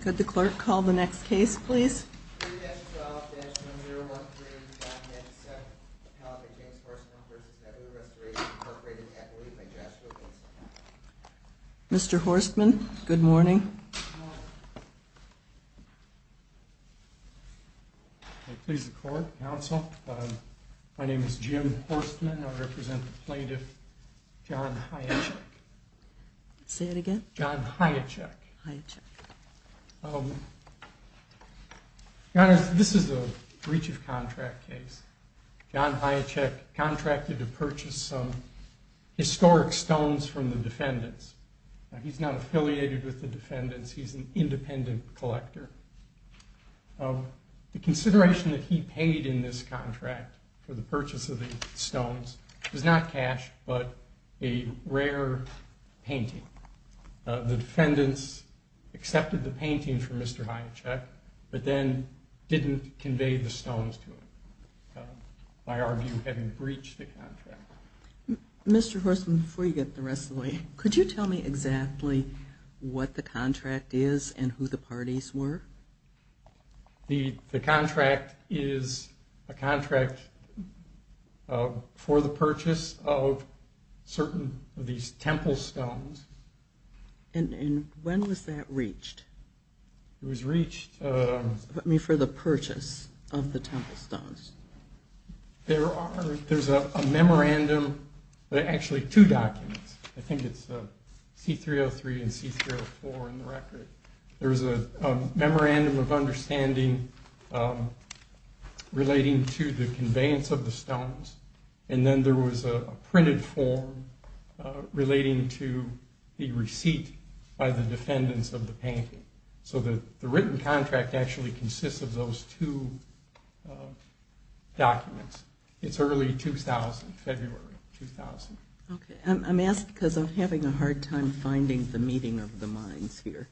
Could the clerk call the next case please? Mr. Horstman, good morning. Please the court, counsel. My name is Jim Horstman. I represent the plaintiff John Hiacek. This is a breach of contract case. John Hiacek contracted to purchase some historic stones from the defendants. He's not affiliated with the defendants, he's an independent collector. The consideration that he paid in this contract for the purchase of the stones was not cash, but a rare painting. The defendants accepted the painting from Mr. Hiacek, but then didn't convey the stones to him. I argue having breached the contract. Mr. Horstman, before you get the rest of the way, could you tell me exactly what the contract is and who the parties were? The these temple stones. And when was that reached? It was reached for the purchase of the temple stones. There's a memorandum, actually two documents, I think it's C-303 and C-304 in the record. There was a memorandum of understanding relating to the conveyance of the stones, and then there was a printed form relating to the receipt by the defendants of the painting. So that the written contract actually consists of those two documents. It's early 2000, February 2000. Okay, I'm asked because I'm having a hard time finding the meeting of the minds here.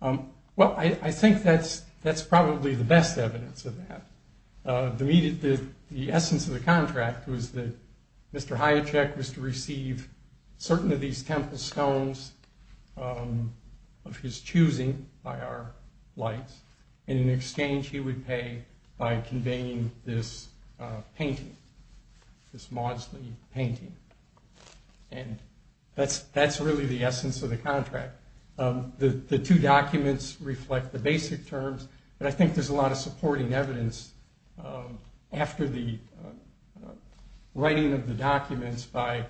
Well, I think that's probably the best evidence of that. The essence of the contract was that Mr. Hiacek was to receive certain of these temple stones of his choosing by our lights, and in exchange he would pay by conveying this painting, this Maudsley painting. And that's really the basic terms, but I think there's a lot of supporting evidence after the writing of the documents by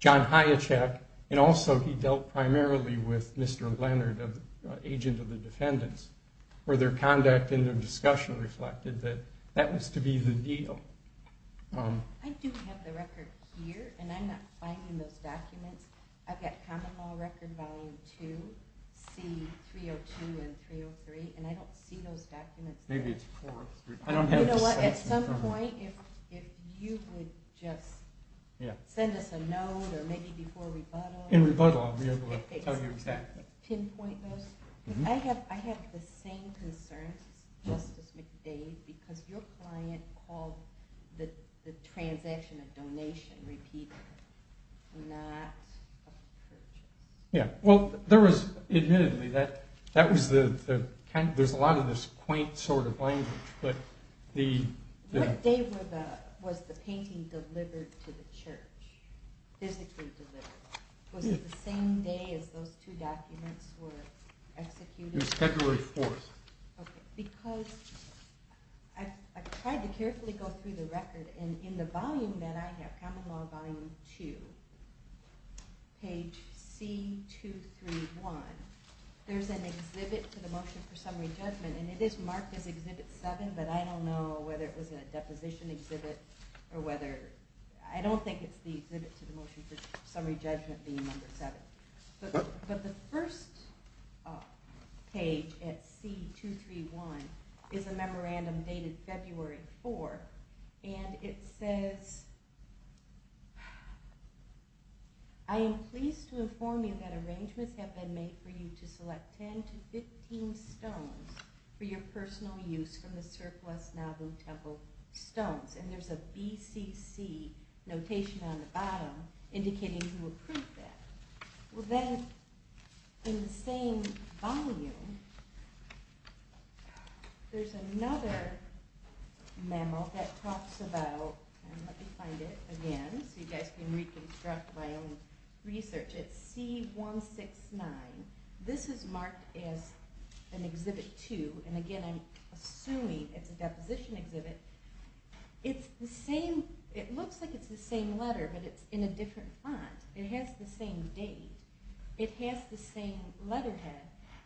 John Hiacek, and also he dealt primarily with Mr. Leonard, the agent of the defendants, where their conduct in the discussion reflected that that was to be the deal. I do have the record here, and I'm not finding those documents. I've got common law record volume 2, C302 and 303, and I don't see those documents. Maybe it's 4 or 3. You know what, at some point if you would just send us a note, or maybe before rebuttal. In rebuttal I'll be able to tell you exactly. I have the same concerns, Justice McDade, because your client called the transaction a donation, not a purchase. Yeah, well there was, admittedly, there's a lot of this quaint sort of language. What day was the painting delivered to the church, physically delivered? Was it the same day as those two documents were executed? It was February 4th. Okay, because I've tried to carefully go through the record, and in the volume that I have, common law volume 2, page C231, there's an exhibit to the motion for summary judgment, and it is marked as exhibit 7, but I don't know whether it was a deposition exhibit, or whether, I don't think it's the exhibit to the motion for summary judgment being number 7. But the first page at page C231 is a memorandum dated February 4th, and it says, I am pleased to inform you that arrangements have been made for you to select 10 to 15 stones for your personal use from the surplus Nauvoo Temple stones, and there's a BCC notation on the bottom indicating who approved that. Well then, in the same volume, there's another memo that talks about, let me find it again so you guys can reconstruct my own research, it's C169. This is marked as an exhibit 2, and again I'm assuming it's a deposition exhibit. It's the same, it looks like it's the same letter, but it's in a same date. It has the same letterhead,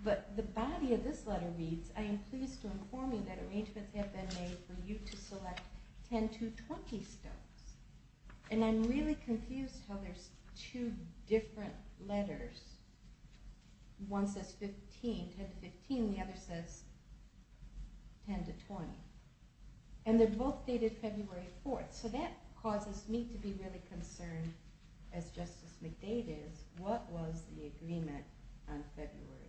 but the body of this letter reads, I am pleased to inform you that arrangements have been made for you to select 10 to 20 stones. And I'm really confused how there's two different letters. One says 15, 10 to 15, and the other says 10 to 20. And they're both dated February 4th, so that causes me to be really concerned, as Justice McDade is, what was the agreement on February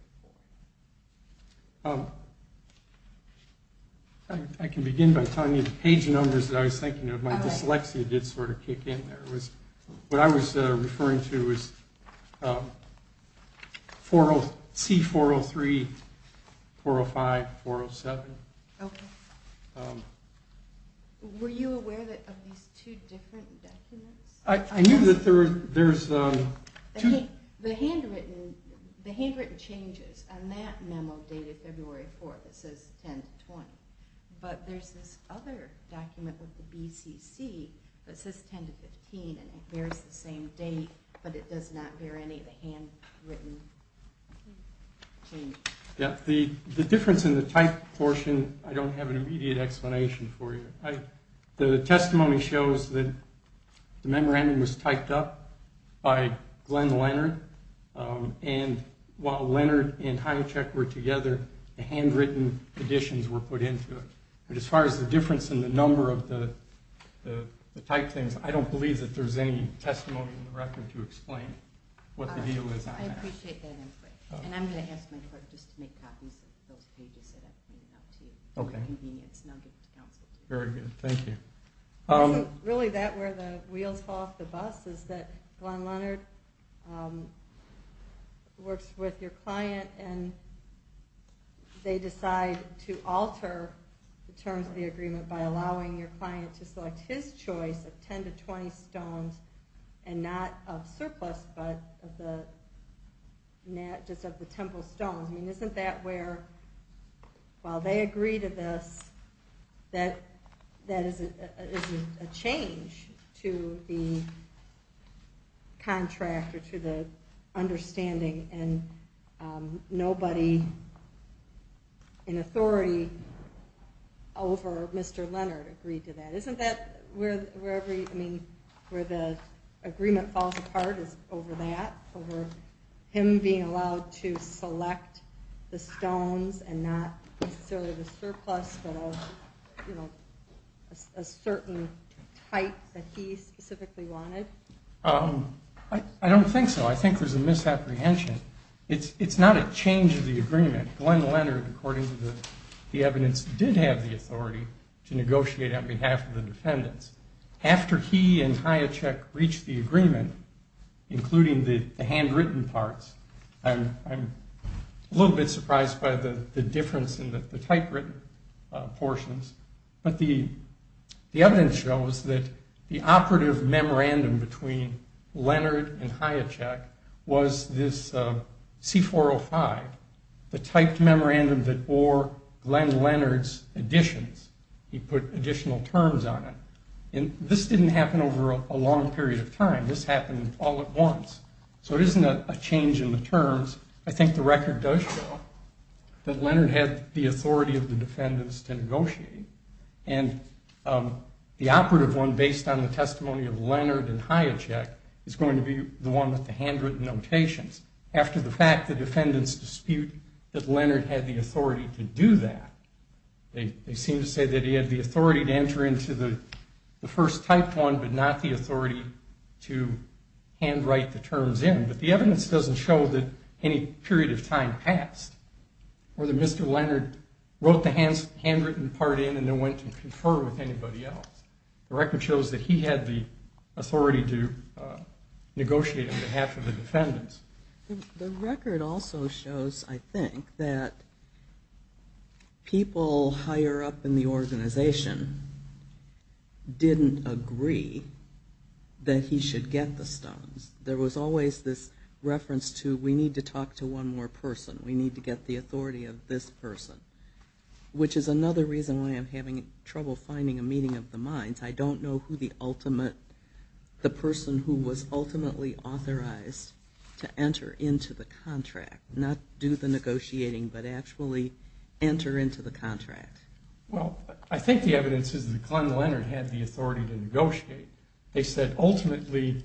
4th? I can begin by telling you the page numbers that I was thinking of. My dyslexia did sort of kick in there. What I was referring to was C403, 405, 407. Okay. Were you aware of these two different documents? I knew that there's two... The handwritten changes on that memo dated February 4th, it says 10 to 20. But there's this other document with the BCC that says 10 to 15, and it bears the same date, but it does not bear any of the handwritten change. Yeah, the difference in the type portion, I don't have an immediate explanation for you. The testimony shows that the memorandum was typed up by Glenn Leonard, and while Leonard and Hinocheck were together, the handwritten additions were put into it. But as far as the difference in the number of the typed things, I don't believe that there's any testimony in the record to explain what the deal is on that. I appreciate that input, and I'm going to ask my clerk just to make copies of those pages that I pointed out to you, for convenience, and I'll get to counsel. Very good, thank you. Isn't really that where the wheels fall off the bus, is that Glenn Leonard works with your client, and they decide to alter the terms of the agreement by allowing your client to select his choice of 10 to 20 stones, and not of surplus, but just of the temple stones. Isn't that where, while they agree to this, that is a change to the contract, or to the understanding, and nobody in authority over Mr. Leonard agreed to that. Isn't that where the agreement falls apart, is over that, over him being allowed to select the stones, and not necessarily the surplus, but a certain type that he specifically wanted? I don't think so. I think there's a misapprehension. It's not a change of the agreement. Glenn Leonard, according to the evidence, did have the authority to negotiate on behalf of the defendants. After he and Hayacek reached the agreement, including the handwritten parts, I'm a little bit surprised by the difference in the typewritten portions, but the evidence shows that the operative memorandum between Leonard and Hayacek was this C405, the typed memorandum that bore Glenn Leonard's additions. He put additional terms on it. And this didn't happen over a long period of time. This happened all at once. So it isn't a change in the terms. I think the record does show that Leonard had the authority of the defendants to negotiate. And the operative one, based on the testimony of Leonard and Hayacek, is going to be the one with the handwritten notations. After the fact, the defendants dispute that Leonard had the authority to do that. They seem to say that he had the authority to enter into the first typed one, but not the authority to handwrite the terms in. But the evidence doesn't show that any period of time passed or that Mr. Leonard wrote the handwritten part in and then went to confer with anybody else. The record shows that he had the authority to negotiate on behalf of the defendants. The record also shows, I think, that people higher up in the organization didn't agree that he should get the stones. There was always this reference to, we need to talk to one more person. We need to get the authority of this person, which is another reason why I'm having trouble finding a meeting of the minds. I don't know who the person who was ultimately authorized to enter into the contract, not do the negotiating, but actually enter into the contract. Well, I think the evidence is that Glenn Leonard had the authority to negotiate. They said, ultimately,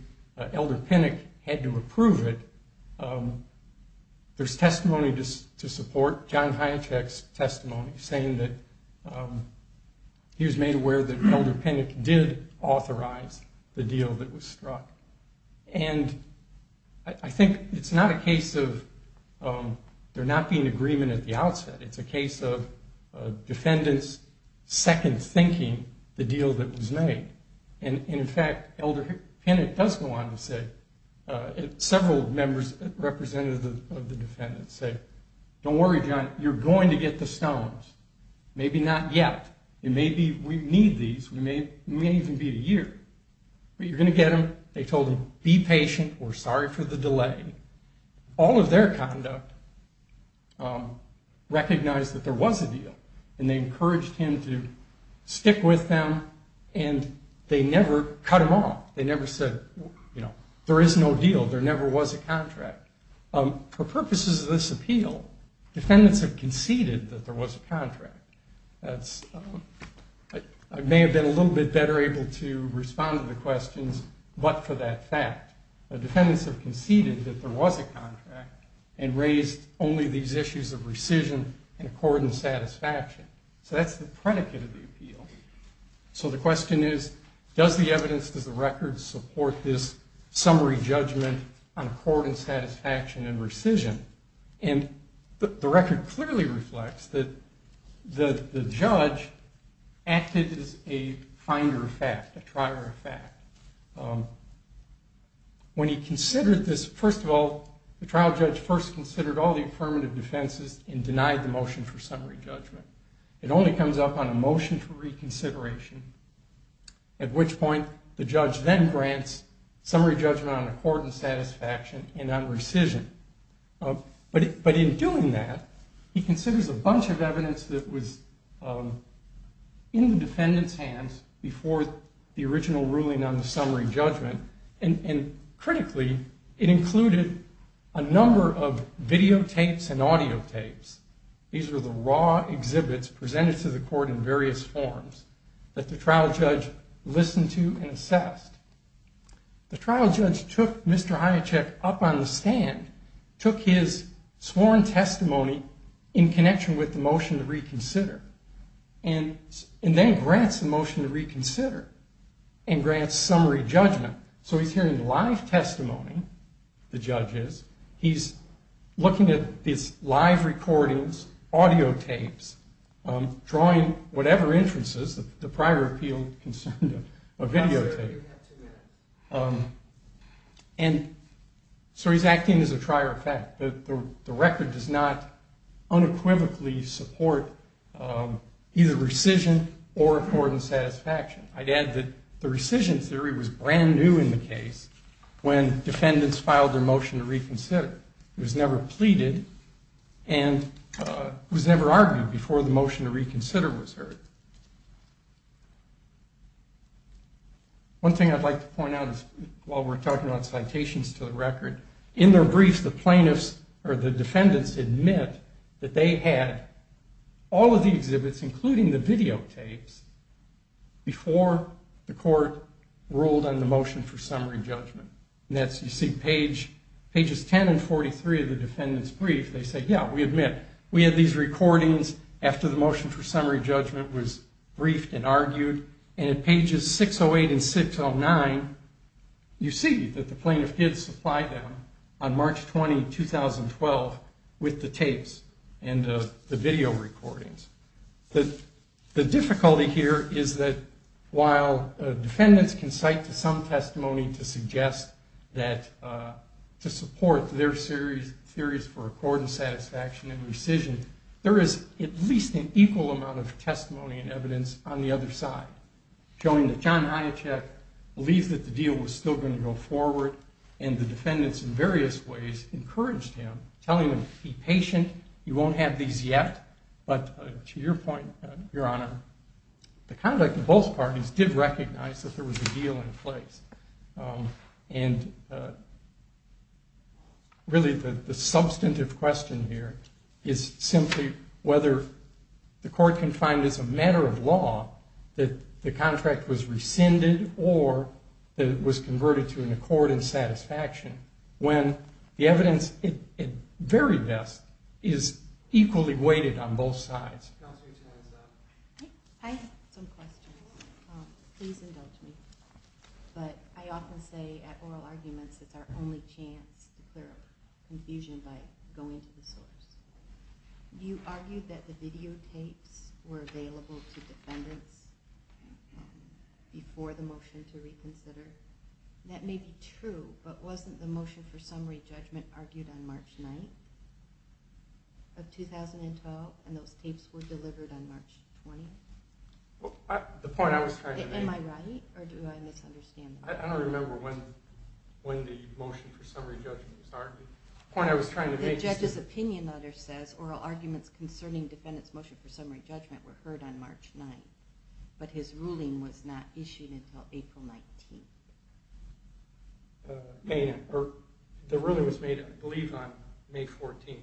Elder Pinnock had to approve it. There's testimony to support John Hyatt's testimony, saying that he was made aware that Elder Pinnock did authorize the deal that was struck. And I think it's not a case of there not being agreement at the outset. It's a case of defendants second-thinking the deal that was made. And in fact, Elder Pinnock does go on to say, several representatives of the defendants say, don't worry, John, you're going to get the stones. Maybe not yet. It may be we need these. It may even be a year. But you're going to get them. They told him, be patient. We're sorry for the delay. All of their conduct recognized that there was a deal. And they encouraged him to stick with them. And they never cut him off. They never said, there is no deal. There never was a contract. For purposes of this appeal, defendants have conceded that there was a contract. I may have been a little bit better able to respond to the questions, but for that fact, the defendants have conceded that there was a contract and raised only these issues of rescission and accord and satisfaction. So that's the predicate of the appeal. So the question is, does the evidence, does the record support this summary judgment on accord and satisfaction and rescission? And the record clearly reflects that the judge acted as a finder of fact, a trier of fact. When he considered this, first of all, the trial judge first considered all the affirmative defenses and denied the motion for summary judgment. It only comes up on a motion for reconsideration, at which point the judge then grants summary judgment on accord and satisfaction and on rescission. But in doing that, he considers a bunch of evidence that was in the defendant's hands before the original ruling on the summary judgment. And critically, it included a number of videotapes and audiotapes. These were the raw exhibits presented to the court in various forms that the trial judge listened to and assessed. The trial judge took Mr. Hiacek up on the stand, took his sworn testimony in connection with the motion to reconsider, and then grants the motion to reconsider and grants summary judgment. So he's hearing live testimony, the judge is. He's looking at these live recordings, audiotapes, drawing whatever interest is, the prior appeal concerned a videotape. And so he's acting as a trier of fact. The record does not unequivocally support either rescission or accord and satisfaction. I'd add that the rescission theory was brand new in the case when defendants filed their motion to reconsider. It was never pleaded and was never argued before the motion to reconsider was heard. One thing I'd like to point out while we're talking about citations to the record, in their briefs, the plaintiffs or the defendants admit that they had all of the exhibits, including the videotapes, before the court ruled on the motion for summary judgment. You see pages 10 and 43 of the defendant's brief. They say, yeah, we admit. We had these recordings after the motion for summary judgment was briefed and argued. And in pages 608 and 609, you see that the plaintiff did supply them on March 20, 2012 with the tapes and the video recordings. The difficulty here is that while defendants can cite to some testimony to suggest that to support their theories for accord and satisfaction and rescission, there is at least an equal amount of testimony and evidence on the other side, showing that John Hiacek believed that the deal was still going to go forward and the defendants in various ways encouraged him, telling him, be patient. You won't have these yet, but to your point, Your Honor, the conduct of both parties did recognize that there was a deal in place. Really, the substantive question here is simply whether the court can find as a matter of law that the contract was rescinded or that it was converted to an accord and satisfaction, when the evidence at very best is equally weighted on both sides. I have some questions. Please indulge me. But I often say at oral arguments, it's our only chance to clear up confusion by going to the source. You argued that the videotapes were available to defendants before the motion to reconsider. That may be true, but wasn't the motion for summary judgment argued on March 9th of 2012, and those tapes were delivered on March 20th? The point I was trying to make... Am I right, or do I misunderstand? I don't remember when the motion for summary judgment was argued. The point I was trying to make is... The judge's opinion letter says oral arguments concerning defendants' motion for summary judgment were heard on March 9th, but his ruling was not issued until April 19th. The ruling was made, I believe, on May 14th.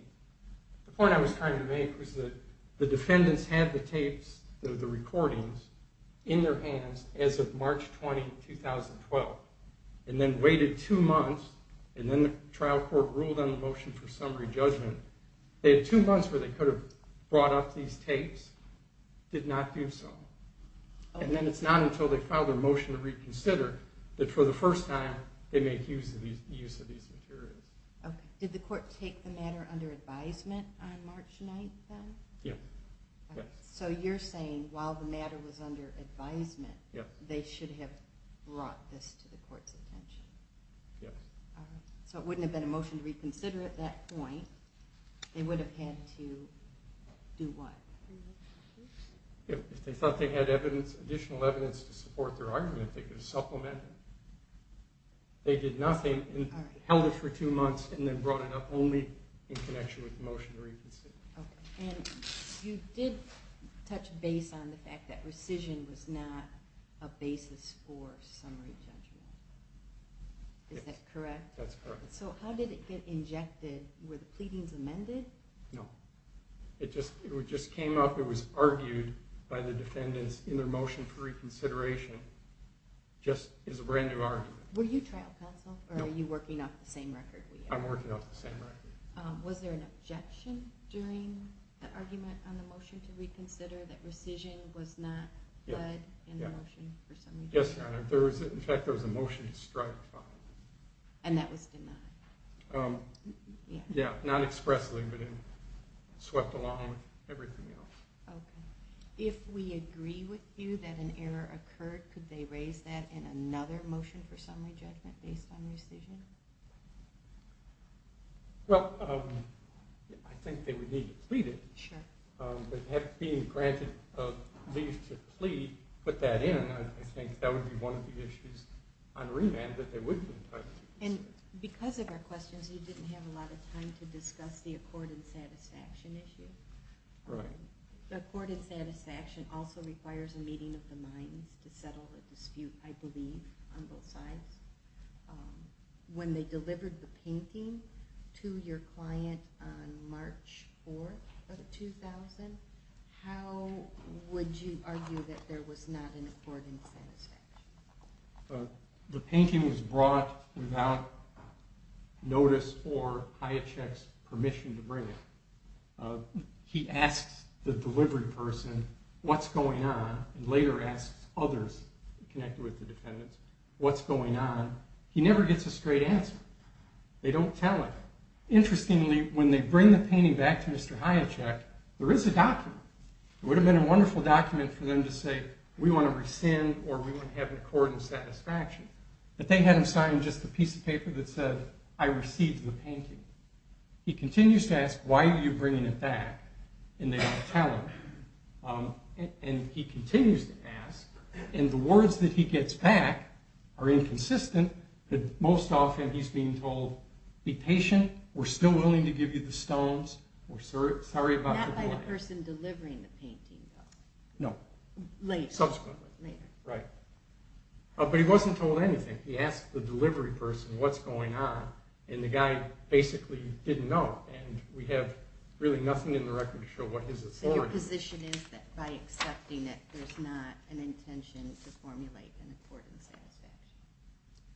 The point I was trying to make was that the defendants had the tapes, the recordings, in their hands as of March 20th, 2012, and then waited two months, and then the trial court ruled on the motion for summary judgment. They had two months where they could have brought up these tapes, did not do so. And then it's not until they file their motion to reconsider that, for the first time, they make use of these materials. Did the court take the matter under advisement on March 9th, then? Yes. So you're saying, while the matter was under advisement, they should have brought this to the court's attention? Yes. So it wouldn't have been a motion to reconsider at that point. They would have had to do what? If they thought they had additional evidence to support their argument, they could have supplemented it. They did nothing, held it for two months, and then brought it up only in connection with the motion to reconsider. And you did touch base on the fact that rescission was not a basis for summary judgment. Is that correct? That's correct. So how did it get injected? Were the pleadings amended? No. It just came up. It was argued by the defendants in their motion for reconsideration. Just as a brand new argument. Were you trial counsel? No. Or are you working off the same record? I'm working off the same record. Was there an objection during the argument on the motion to reconsider that rescission was not led in the motion for summary judgment? Yes, Your Honor. In fact, there was a motion to strike. And that was denied? Yeah. Not expressly, but it swept along with everything else. Okay. If we agree with you that an error occurred, could they raise that in another motion for summary judgment based on rescission? Well, I think they would need to plead it. Sure. But being granted a leave to plead, put that in, I think that would be one of the issues on remand that they would be entitled to. And because of our questions, you didn't have a lot of time to discuss the accord and satisfaction issue. Right. The accord and satisfaction also requires a meeting of the minds to settle a dispute, I believe, on both sides. When they delivered the painting to your client on March 4th of 2000, how would you argue that there was not an accord and satisfaction? The painting was brought without notice or Hiacek's permission to bring it. He asks the delivery person, what's going on, and later asks others connected with the defendants, what's going on. He never gets a straight answer. They don't tell him. Interestingly, when they bring the painting back to Mr. Hiacek, there is a document. It would have been a wonderful document for them to say, we want to rescind or we want to have an accord and satisfaction, but they had him sign just a piece of paper that said, I received the painting. He continues to ask, why are you bringing it back? And they don't tell him. And he continues to ask, and the words that he gets back are inconsistent, but most often he's being told, be patient, we're still willing to give you the stones, we're sorry about the blight. Not by the person delivering the painting, though. No. Later. Subsequently. Later. Right. But he wasn't told anything. He asked the delivery person, what's going on, and the guy basically didn't know, and we have really nothing in the record to show what his authority was. So your position is that by accepting it, there's not an intention to formulate an accord and satisfaction.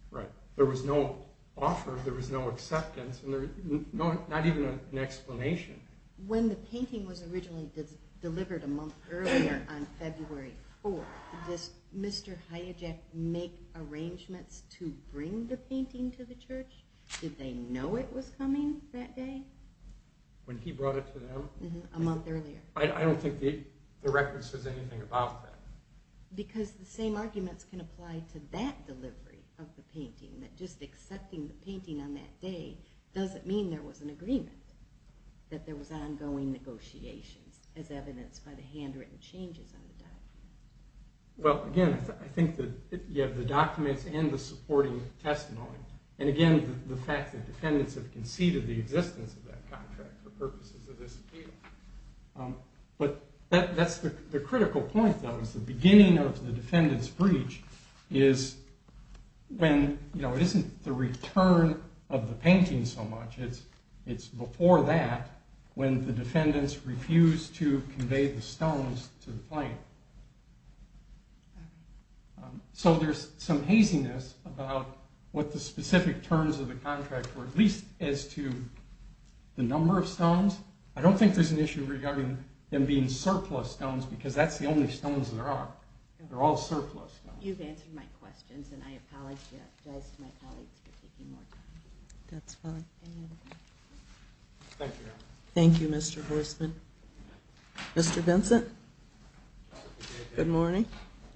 Right. There was no offer, there was no acceptance, and not even an explanation. When the painting was originally delivered a month earlier, on February 4th, did Mr. Hayajek make arrangements to bring the painting to the church? Did they know it was coming that day? When he brought it to them? A month earlier. I don't think the record says anything about that. Because the same arguments can apply to that delivery of the painting, that just accepting the painting on that day doesn't mean there was an agreement, that there was ongoing negotiations, as evidenced by the handwritten changes on the document. Well, again, I think that you have the documents and the supporting testimony, and again, the fact that defendants have conceded the existence of that contract for purposes of this appeal. But that's the critical point, though, is the beginning of the defendant's breach is when, you know, it isn't the return of the painting so much, it's before that, when the defendants refuse to convey the stones to the plaintiff. So there's some haziness about what the specific terms of the contract were, at least as to the number of stones. I don't think there's an issue regarding them being surplus stones, because that's the only stones there are. They're all surplus stones. You've answered my questions, and I apologize to my colleagues for taking more time. That's fine. Thank you. Thank you, Your Honor. Thank you, Mr. Horstman. Mr. Vincent? Good morning.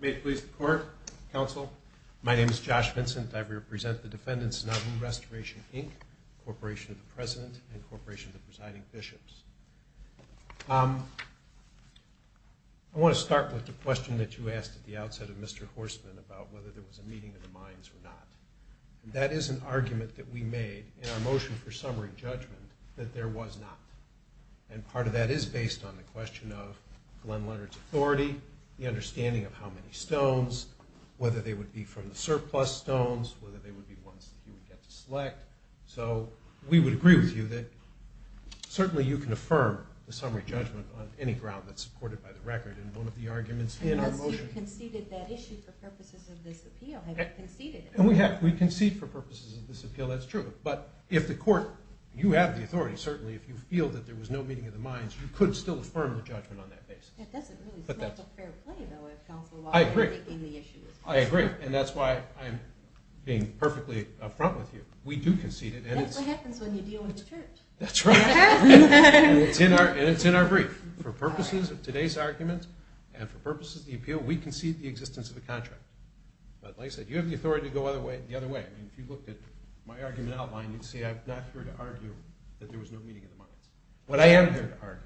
May it please the Court, Counsel. My name is Josh Vincent. I represent the defendants in Abu Restoration, Inc., Corporation of the President, and Corporation of the Presiding Bishops. I want to start with the question that you asked at the outset of Mr. Horstman about whether there was a meeting of the minds or not. That is an argument that we made in our motion for summary judgment that there was not. And part of that is based on the question of Glenn Leonard's authority, the understanding of how many stones, whether they would be from the surplus stones, whether they would be ones that he would get to select. So we would agree with you that certainly you can affirm the summary judgment on any ground that's supported by the record in one of the arguments in our motion. Unless you conceded that issue for purposes of this appeal. I don't have it conceded. We concede for purposes of this appeal, that's true. But if the Court, you have the authority, certainly, if you feel that there was no meeting of the minds, you could still affirm the judgment on that basis. It doesn't really make a fair play, though, if counsel are making the issues. I agree. And that's why I'm being perfectly up front with you. We do concede it. That's what happens when you deal with the Church. That's right. And it's in our brief. For purposes of today's argument and for purposes of the appeal, we concede the existence of a contract. But like I said, you have the authority to go the other way. I mean, if you looked at my argument outline, you'd see I'm not here to argue that there was no meeting of the minds. What I am here to argue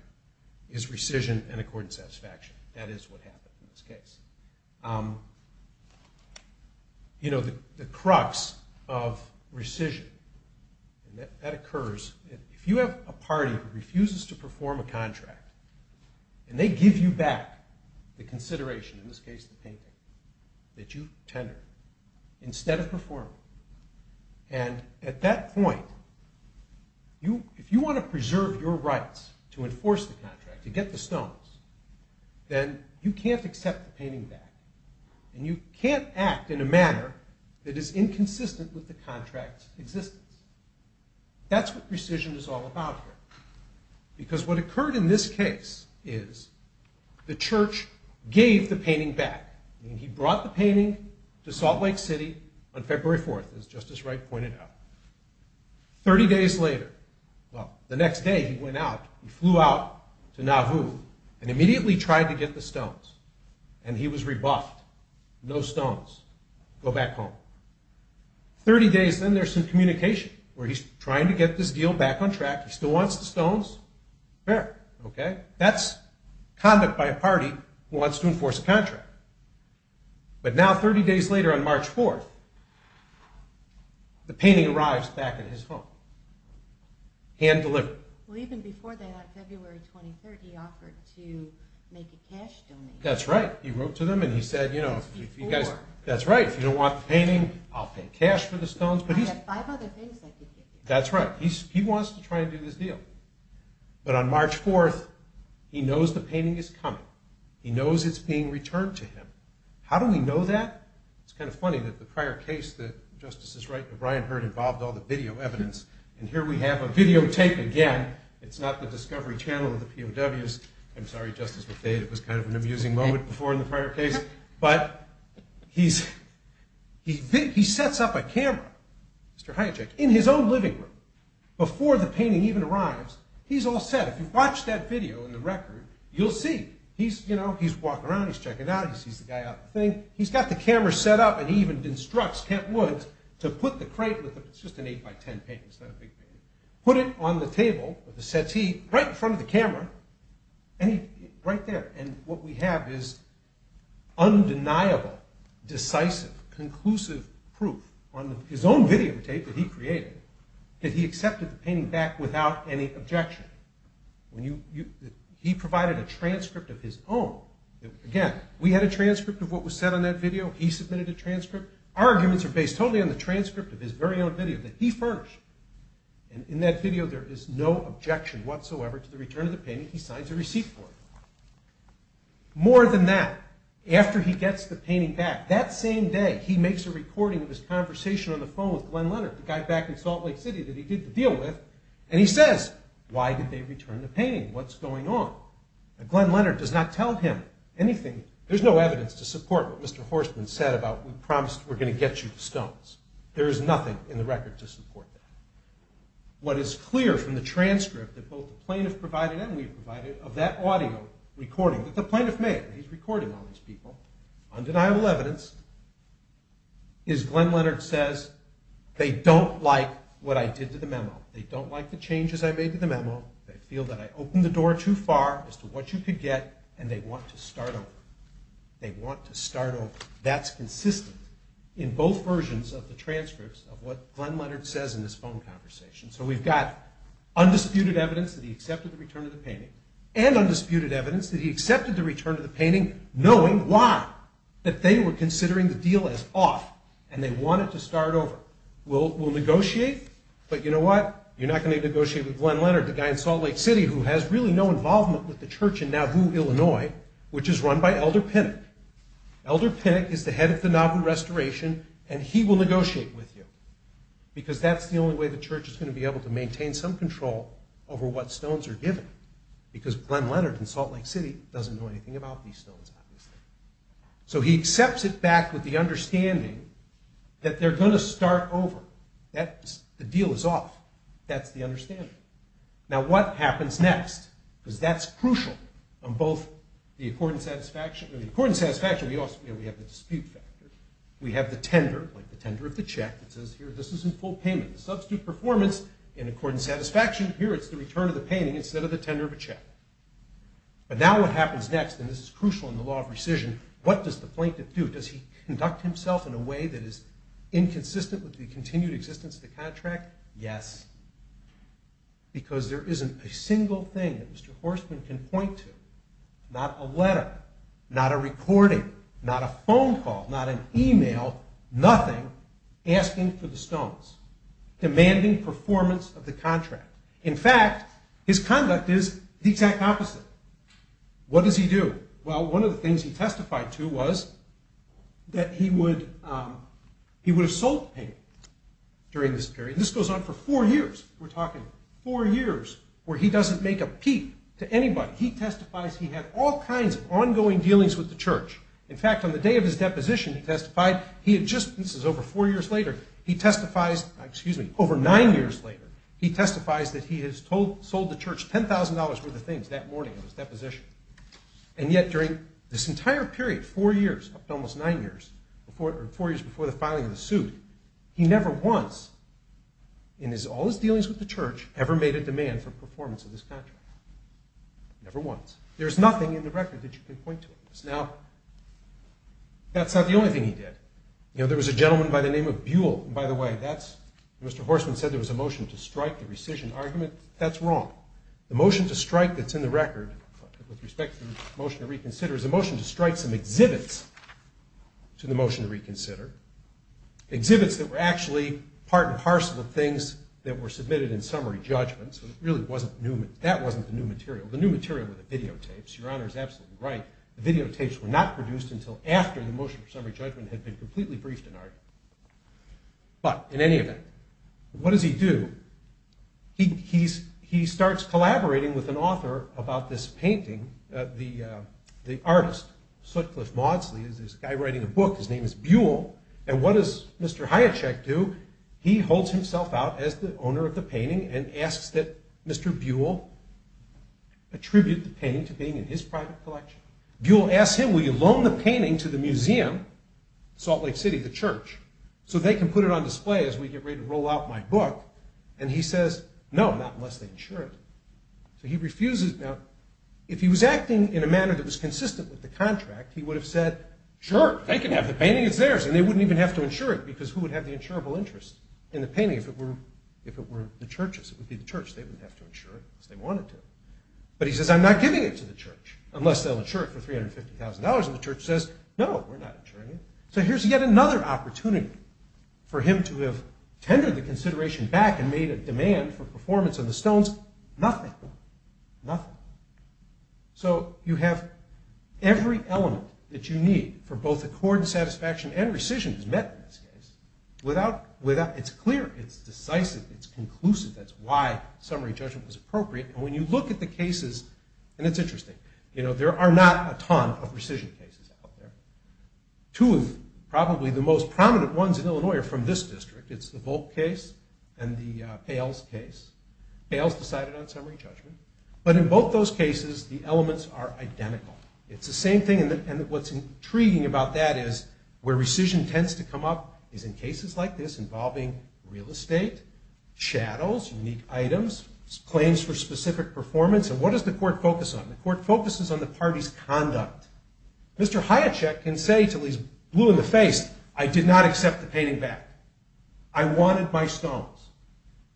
is rescission and accord and satisfaction. That is what happened in this case. You know, the crux of rescission, and that occurs, if you have a party who refuses to perform a contract, and they give you back the consideration, in this case the painting that you tendered, instead of performing. And at that point, if you want to preserve your rights to enforce the contract, to get the stones, then you can't accept the painting back. And you can't act in a manner that is inconsistent with the contract's existence. That's what rescission is all about here. Because what occurred in this case is the Church gave the painting back. I mean, he brought the painting to Salt Lake City on February 4th, as Justice Wright pointed out. Thirty days later, well, the next day he went out, he flew out to Nauvoo, and immediately tried to get the stones. And he was rebuffed. No stones. Go back home. Thirty days, then there's some communication, where he's trying to get this deal back on track. He still wants the stones. Fair, okay? That's conduct by a party who wants to enforce a contract. But now, 30 days later, on March 4th, the painting arrives back at his home, hand-delivered. Well, even before that, on February 23rd, he offered to make a cash donation. That's right. He wrote to them, and he said, you know, that's right, if you don't want the painting, I'll pay cash for the stones. I have five other things I could give you. That's right. He wants to try and do this deal. But on March 4th, he knows the painting is coming. He knows it's being returned to him. How do we know that? It's kind of funny that the prior case that Justice is right, that Brian heard, involved all the video evidence. And here we have a videotape again. It's not the Discovery Channel or the POWs. I'm sorry, Justice Lafayette, it was kind of an amusing moment before in the prior case. But he's, he sets up a camera, Mr. Hijack, in his own living room before the painting even arrives. He's all set. If you've watched that video in the record, you'll see. He's, you know, he's walking around, he's checking out, he sees the guy out of the thing. He's got the camera set up, and he even instructs Kent Woods to put the crate with the, it's just an eight by ten painting, it's not a big painting, put it on the table of the settee right in front of the camera, and he, right there. And what we have is undeniable, decisive, conclusive proof on his own videotape that he created, that he accepted the painting back without any objection. When you, he provided a transcript of his own. Again, we had a transcript of what was said on that video. He submitted a transcript. Our arguments are based totally on the transcript of his very own video that he furnished. And in that video, there is no objection whatsoever to the return of the painting. He signs a receipt for it. More than that, after he gets the painting back, that same day, he makes a recording of his conversation on the phone with Glenn Leonard, the guy back in Salt Lake City that he did the deal with, and he says, why did they return the painting? What's going on? And Glenn Leonard does not tell him anything. There's no evidence to support what Mr. Horstman said about we promised we're going to get you the stones. There is nothing in the record to support that. What is clear from the transcript that both the plaintiff provided and we provided of that audio recording that the plaintiff made, and he's recording all these people, undeniable evidence, is Glenn Leonard says they don't like what I did to the memo. They don't like the changes I made to the memo. They feel that I opened the door too far as to what you could get, and they want to start over. They want to start over. That's consistent in both versions of the transcripts of what Glenn Leonard says in this phone conversation. So we've got undisputed evidence that he accepted the return of the painting, and undisputed evidence that he accepted the return of the painting, knowing why, that they were considering the deal as off, and they wanted to start over. We'll negotiate, but you know what? You're not going to negotiate with Glenn Leonard, the guy in Salt Lake City who has really no involvement with the church in Nauvoo, Illinois, which is run by Elder Pinnock. Elder Pinnock is the head of the Nauvoo Restoration, and he will negotiate with you, because that's the only way the church is going to be able to maintain some control over what stones are given, because Glenn Leonard in Salt Lake City doesn't know anything about these stones, obviously. So he accepts it back with the understanding that they're going to start over. The deal is off. That's the understanding. Now, what happens next? Because that's crucial on both the accord and satisfaction. In the accord and satisfaction, we have the dispute factor. We have the tender, like the tender of the check, that says, here, this is in full payment. Substitute performance, in accord and satisfaction, here, it's the return of the painting instead of the tender of a check. But now what happens next, and this is crucial in the law of rescission, what does the plaintiff do? Does he conduct himself in a way that is inconsistent with the continued existence of the contract? Yes. Because there isn't a single thing that Mr. Horstman can point to. Not a letter. Not a recording. Not a phone call. Not an email. Nothing. Asking for the stones. Demanding performance of the contract. In fact, his conduct is the exact opposite. What does he do? Well, one of the things he testified to was that he would have sold the painting during this period. This goes on for four years. Four years where he doesn't make a peep to anybody. He testifies he had all kinds of ongoing dealings with the church. In fact, on the day of his deposition, he testified, this is over four years later, he testifies, excuse me, over nine years later, he testifies that he has sold the church $10,000 worth of things that morning of his deposition. And yet, during this entire period, four years, up to almost nine years, four years before the filing of the suit, he never once in all his dealings with the church, ever made a demand for performance of this contract. Never once. There's nothing in the record that you can point to. Now, that's not the only thing he did. You know, there was a gentleman by the name of Buell. And by the way, that's, Mr. Horstman said there was a motion to strike the rescission argument. That's wrong. The motion to strike that's in the record, with respect to the motion to reconsider, is a motion to strike some exhibits to the motion to reconsider. Exhibits that were actually part and parcel of things that were submitted in summary judgment. So it really wasn't new. That wasn't the new material. The new material were the videotapes. Your Honor is absolutely right. The videotapes were not produced until after the motion for summary judgment had been completely debriefed in art. But, in any event, what does he do? He starts collaborating with an author about this painting. The artist, Sutcliffe Maudsley, is this guy writing a book. His name is Buell. And what does Mr. Hiacek do? He holds himself out as the owner of the painting and asks that Mr. Buell attribute the painting to being in his private collection. Buell asks him, will you loan the painting to the museum? Salt Lake City, the church. So they can put it on display as we get ready to roll out my book. And he says, no, not unless they insure it. So he refuses. If he was acting in a manner that was consistent with the contract, he would have said, sure, they can have the painting. It's theirs. And they wouldn't even have to insure it because who would have the insurable interest in the painting if it were the churches? It would be the church. They wouldn't have to insure it because they wanted to. But he says, I'm not giving it to the church unless they'll insure it for $350,000. And the church says, no, we're not insuring it. So here's yet another opportunity for him to have tendered the consideration back and made a demand for performance of the stones. Nothing. Nothing. So you have every element that you need for both accord and satisfaction and rescission is met in this case. It's clear, it's decisive, it's conclusive. That's why summary judgment is appropriate. And when you look at the cases, and it's interesting, there are not a ton of rescission cases out there. Two of probably the most prominent ones in Illinois are from this district. It's the Volk case and the Pales case. Pales decided on summary judgment. But in both those cases, the elements are identical. It's the same thing, and what's intriguing about that is where rescission tends to come up is in cases like this involving real estate, shadows, unique items, claims for specific performance, and what does the court focus on? The court focuses on the party's conduct. Mr. Hiacek can say until he's blue in the face, I did not accept the painting back. I wanted my stones.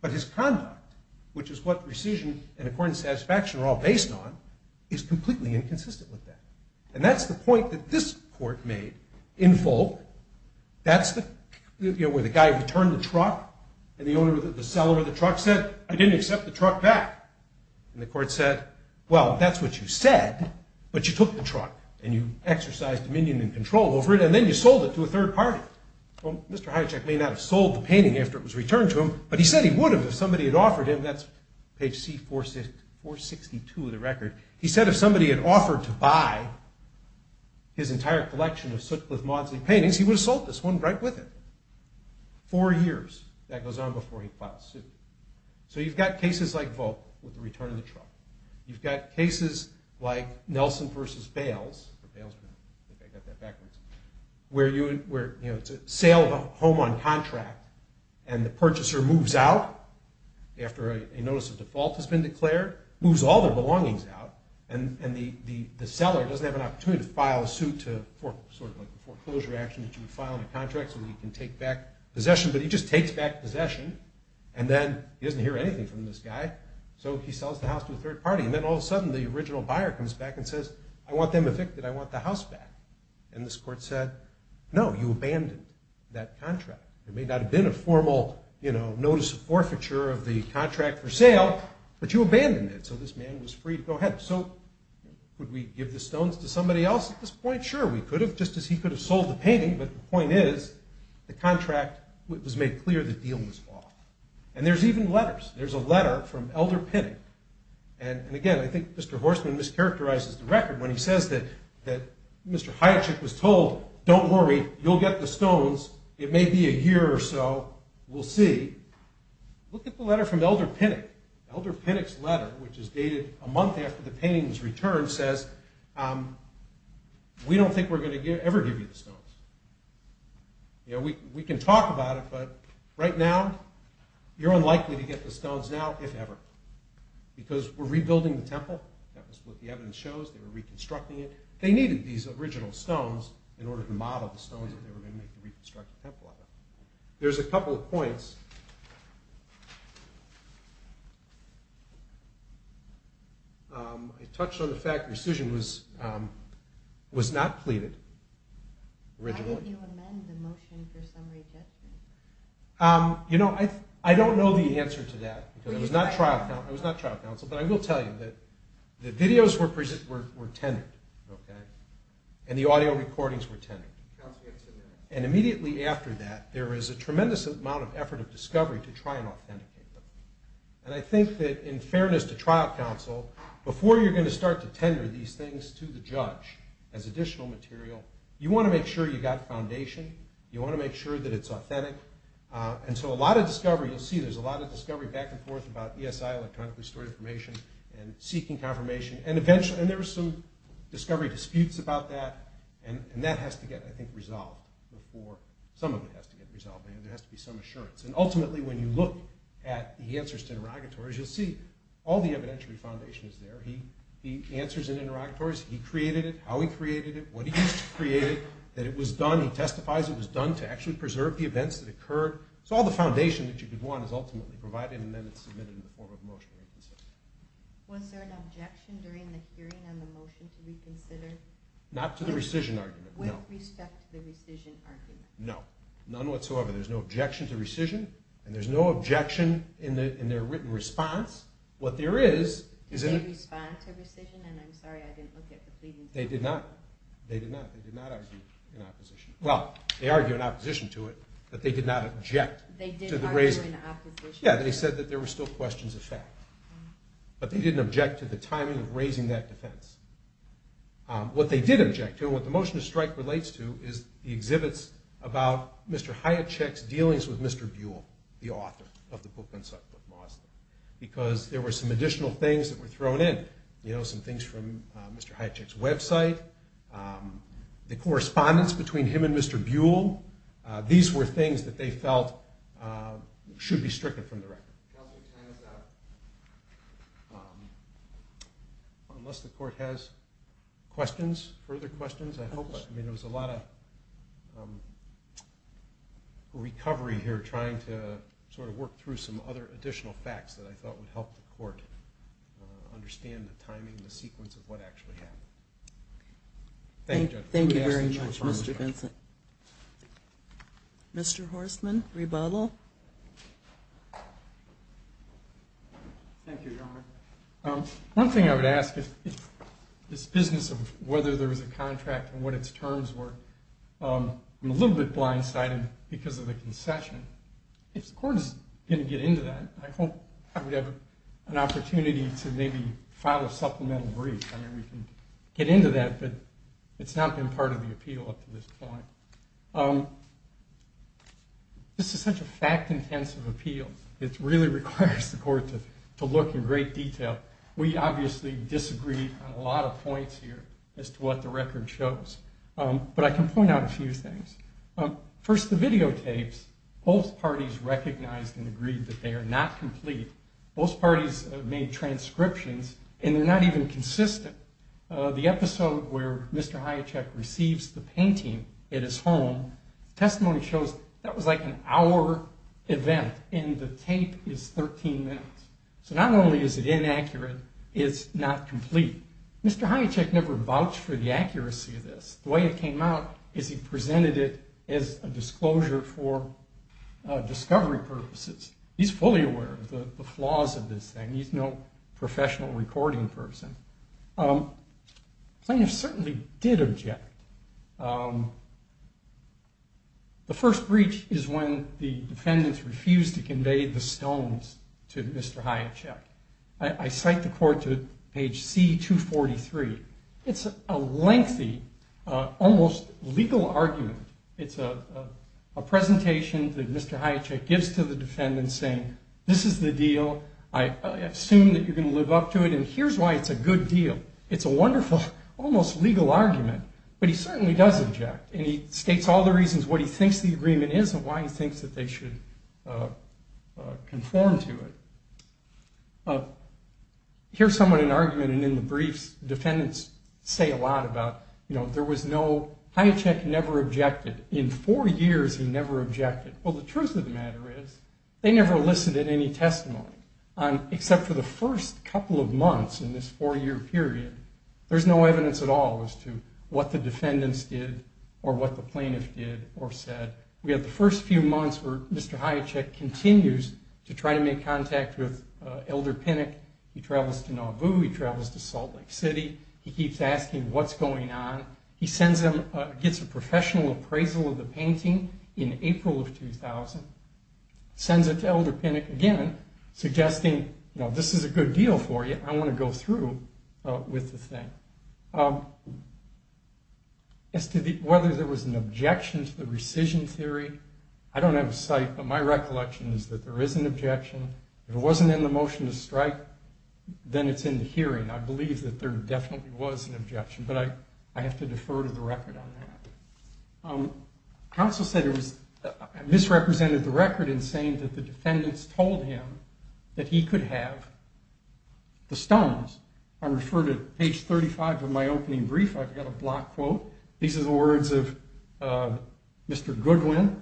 But his conduct, which is what rescission and accord and satisfaction are all based on, is completely inconsistent with that. And that's the point that this court made in full. That's where the guy returned the truck, and the seller of the truck said, I didn't accept the truck back. And the court said, well, that's what you said, but you took the truck, and you exercised dominion and control over it, and then you sold it to a third party. Mr. Hiacek may not have sold the painting after it was returned to him, but he said he would have if somebody had offered him, that's page C462 of the record, he said if somebody had offered to buy his entire collection of Sutcliffe-Maudsley paintings, he would have sold this one right with it. Four years. That goes on before he was acquitted. You've got cases like Nelson v. Bales, where it's a sale of a home on contract, and the purchaser moves out after a notice of default has been declared, moves all their belongings out, and the seller doesn't have an opportunity to file a suit for a foreclosure action that you would file on a contract so that he can take back possession, but he just takes back possession, and then he doesn't hear anything from this guy, so he sells the house to a third party, and then all of a sudden the original buyer comes back and says, I want them evicted, I want the house back, and this court said, no, you abandoned that contract. There may not have been a formal, you know, notice of forfeiture of the contract for sale, but you abandoned it, so this man was free to go ahead. So, would we give the stones to somebody else at this point? Sure, we could have, just as he could have sold the painting, but the point is, the contract was made clear the deal was off. And there's even letters. There's a letter from Elder Pinnock, and again, I think Mr. Horstman mischaracterizes the record when he says that Mr. Hayek was told, don't worry, you'll get the stones, it may be a year or so, we'll see. Look at the letter from Elder Pinnock. Elder Pinnock's letter, which is dated a month after the painting was returned, says, we don't think we're going to ever give you the stones. You know, we can talk about it, but right now, you're unlikely to get the stones now, if ever. Because we're rebuilding the temple, that was what the evidence shows, they were reconstructing it. They needed these original stones in order to model the stones that they were going to make to reconstruct the temple out of. There's a couple of points. I touched on the fact that rescission was not pleaded originally. You know, I don't know the answer to that. It was not trial counsel, but I will tell you that the videos were tendered, and the audio recordings were tendered. And immediately after that, there is a tremendous amount of effort of discovery to try and authenticate them. And I think that in fairness to trial counsel, before you're going to start to tender these things to the judge as additional material, you want to make sure you've got foundation, you want to make sure that it's authentic. And so a lot of discovery, you'll see there's a lot of discovery back and forth about ESI electronically storing information and seeking confirmation. And eventually, and there were some discovery disputes about that, and that has to get, I think, resolved before, some of it has to get resolved. There has to be some assurance. And ultimately, when you look at the answers to interrogatories, you'll see all the evidentiary foundation is there. The answers in interrogatories, he created it, how he created it, what he created, that it was done, he testifies it was done to actually preserve the events that occurred. So all the foundation that you could want is ultimately provided, and then it's submitted in the form of a motion to reconsider. Was there an objection during the hearing on the motion to reconsider? Not to the rescission argument, no. With respect to the rescission argument? No. None whatsoever. There's no objection to rescission, and there's no objection in their written response. What there is... Did they respond to rescission? And I'm sorry, I didn't look at the pleadings. They did not. They did not. They did not argue in opposition. Well, they argued in opposition to it, but they did not object to the raising. They did argue in opposition. Yeah, they said that there were still questions of fact. But they didn't object to the timing of raising that defense. What they did object to, and what the motion to strike relates to, is the exhibits about Mr. Hayacek's dealings with Mr. Buell, the author of the record, because there were some additional things that were thrown in. You know, some things from Mr. Hayacek's website, the correspondence between him and Mr. Buell. These were things that they felt should be stricken from the record. Counselor, time is up. Unless the court has questions, further questions, I hope. There was a lot of recovery here trying to sort of work through some other additional facts that I thought would help the court understand the timing, the sequence of what actually happened. Thank you very much, Mr. Vincent. Mr. Horstman, rebuttal. Thank you, Your Honor. One thing I would ask is this business of whether there was a contract and what its terms were, I'm a little bit blindsided because of the concession. If the court is going to get into that, I hope I would have an opportunity to maybe file a supplemental brief. I mean, we can get into that, but it's not been part of the appeal up to this point. This is such a fact-intensive appeal. It really requires the court to look in great detail. We obviously disagreed on a lot of points here as to what the record shows. But I can point out a few things. First, the videotapes. Both parties recognized and agreed that they are not complete. Both parties made transcriptions and they're not even consistent. The episode where Mr. Hiacek receives the painting at his home, the testimony shows that was like an hour event and the tape is 13 minutes. So not only is it inaccurate, it's not complete. Mr. Hiacek never vouched for the accuracy of this. The way it came out is he presented it as a disclosure for discovery purposes. He's fully aware of the flaws of this thing. He's no professional recording person. Plaintiffs certainly did object. The first breach is when the defendants refused to convey the stones to Mr. Hiacek. I cite the court to page C-243. It's a lengthy, almost legal argument. It's a presentation that Mr. Hiacek gives to the defendants saying, this is the deal. I assume that you're going to live up to it and here's why it's a good deal. It's a wonderful, almost legal argument, but he certainly does object and he states all the reasons what he thinks the agreement is and why he thinks that they should conform to it. Here's somewhat an argument and in the briefs, defendants say a lot about, you know, there was no, Hiacek never objected. In four years, he never objected. Well, the truth of the matter is they never elicited any testimony except for the first couple of months in this four year period. There's no evidence at all as to what the defendants did or what the plaintiff did or said. We have the first few months where Mr. Hiacek continues to try to make contact with Elder Pinnock. He travels to Nauvoo. He travels to Salt Lake City. He keeps asking what's going on. He sends him, gets a professional appraisal of the painting in April of 2000. Sends it to Elder Pinnock again, suggesting, you know, this is a good deal for you. I want to go through with the thing. As to whether there was an objection to the rescission theory, I don't have a site but my recollection is that there is an motion to strike. Then it's in the hearing. I believe that there definitely was an objection but I have to defer to the record on that. Counsel said it was misrepresented the record in saying that the defendants told him that he could have the stones. I refer to page 35 of my opening brief. I've got a block quote. These are the words of Mr. Goodwin.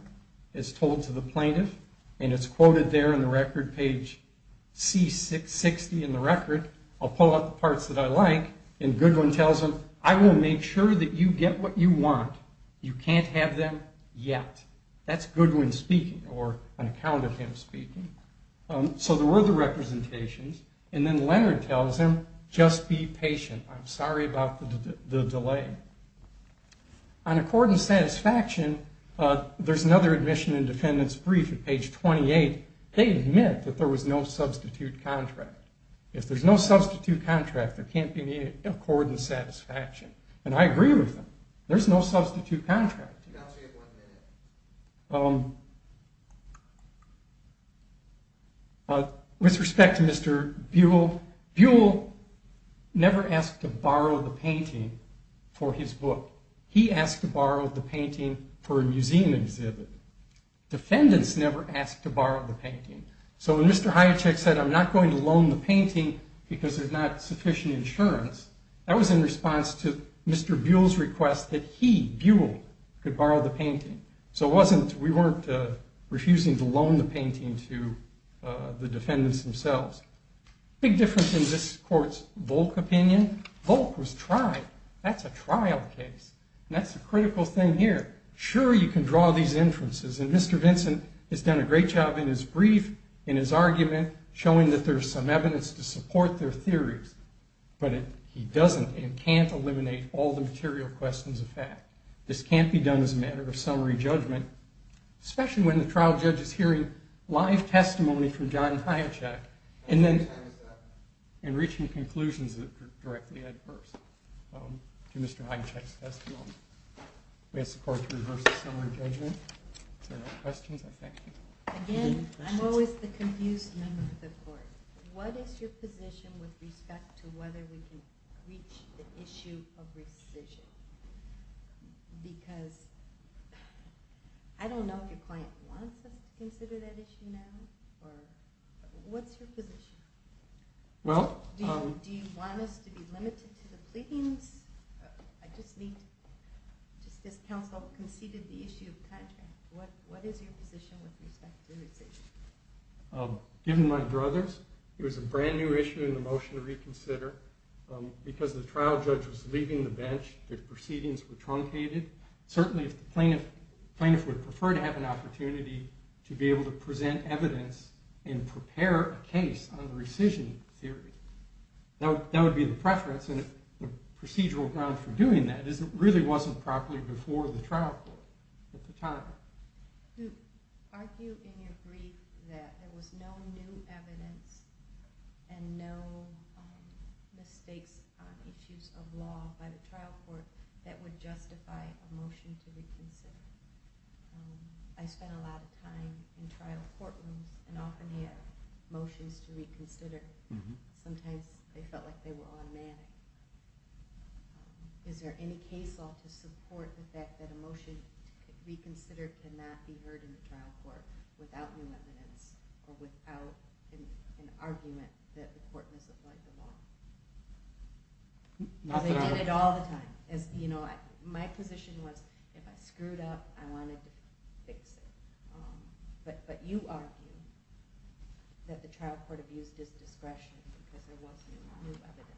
It's told to the plaintiff and it's quoted there in the record, page C660 in the record. I'll pull out the parts that I like and Goodwin tells him, I will make sure that you get what you want. You can't have them yet. That's Goodwin speaking or an account of him speaking. So there were the representations and then Leonard tells him, just be patient. I'm sorry about the delay. On accord and satisfaction, there's another admission and they admit that there was no substitute contract. If there's no substitute contract, there can't be any accord and satisfaction and I agree with them. There's no substitute contract. With respect to Mr. Buell, Buell never asked to borrow the painting for his book. He asked to borrow the painting for a museum exhibit. Defendants never asked to borrow the painting. So when Mr. Hiacek said, I'm not going to loan the painting because there's not sufficient insurance, that was in response to Mr. Buell's request that he, Buell, could borrow the painting. So it wasn't, we weren't refusing to loan the painting to the defendants themselves. Big difference in this court's Volk opinion, Volk was tried. That's a trial case and that's a critical thing here. Sure you can draw these inferences and Mr. Vincent has done a great job in his brief, in his argument showing that there's some evidence to support their theories, but he doesn't and can't eliminate all the material questions of fact. This can't be done as a matter of summary judgment, especially when the trial judge is hearing live testimony reaching conclusions that are directly adverse to Mr. Hiacek's testimony. We ask the court to reverse the summary judgment. If there are no questions, I thank you. Again, I'm always the confused member of the court. What is your position with respect to whether we can reach the issue of rescission? Because I don't know if your client wants us to consider that issue now, or what's your position? Do you want us to be limited to the pleadings? I just need to just as counsel conceded the issue of contract, what is your position with respect to rescission? Given my brothers, it was a brand new issue in the motion to reconsider. Because the trial judge was leaving the bench, the proceedings were truncated. Certainly if the plaintiff would prefer to have an opportunity to be able to present evidence and prepare a case on the rescission theory, that would be the preference, and the procedural grounds for doing that is it really wasn't properly before the trial court at the time. Do you argue in your brief that there was no new evidence and no mistakes on issues of law by the trial court that would justify a motion to reconsider? I spent a lot of time in trial courtrooms and often had motions to reconsider. Sometimes they felt like they were automatic. Is there any case law to support the fact that a motion to reconsider cannot be heard in the trial court without new evidence or without an argument that the court misapplied the law? They did it all the time. My position was if I screwed up, I wanted to fix it. But you argue that the trial court abused its discretion because there was no new evidence.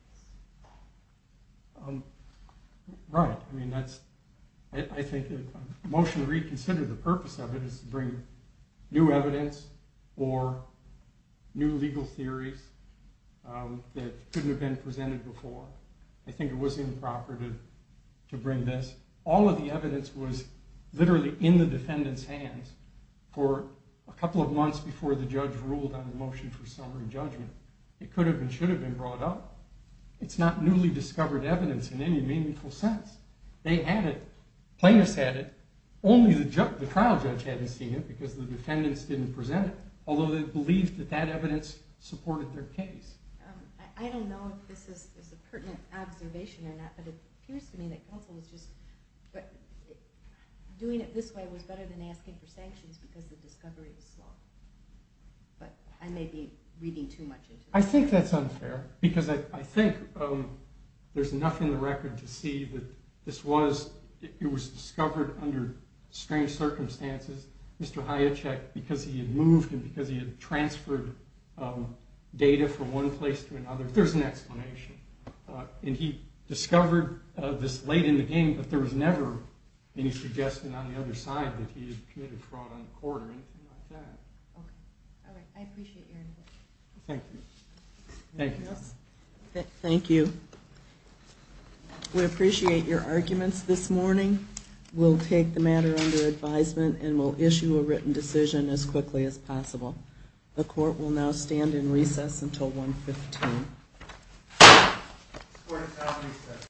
Right. I think a motion to reconsider, the purpose of it is to bring new evidence or new legal theories that couldn't have been presented before. I think it was improper to bring this. All of the evidence was literally in the defendant's hands for a couple of months before the judge ruled on the motion for summary judgment. It could have and should have been brought up. It's not newly discovered evidence in any meaningful sense. They had it. Plaintiffs had it. Only the trial judge hadn't seen it because the defendants didn't present it, although they believed that that evidence supported their case. I don't know if this is a pertinent observation or not, but it appears to me that counsel was just doing it this way was better than asking for sanctions because the discovery was small. But I may be reading too much into it. I think that's unfair because I think there's enough in the record to see that this was, it was discovered under strange circumstances. Mr. Hayacek, because he had moved and because he had transferred data from one place to another, there's an explanation. And he discovered this late in the game that there was never any suggestion on the other side that he had committed fraud on the court or anything like that. I appreciate your input. Thank you. Thank you. We appreciate your arguments this morning. We'll take the matter under advisement and we'll issue a written decision as quickly as possible. The court will now stand in recess until 1.15.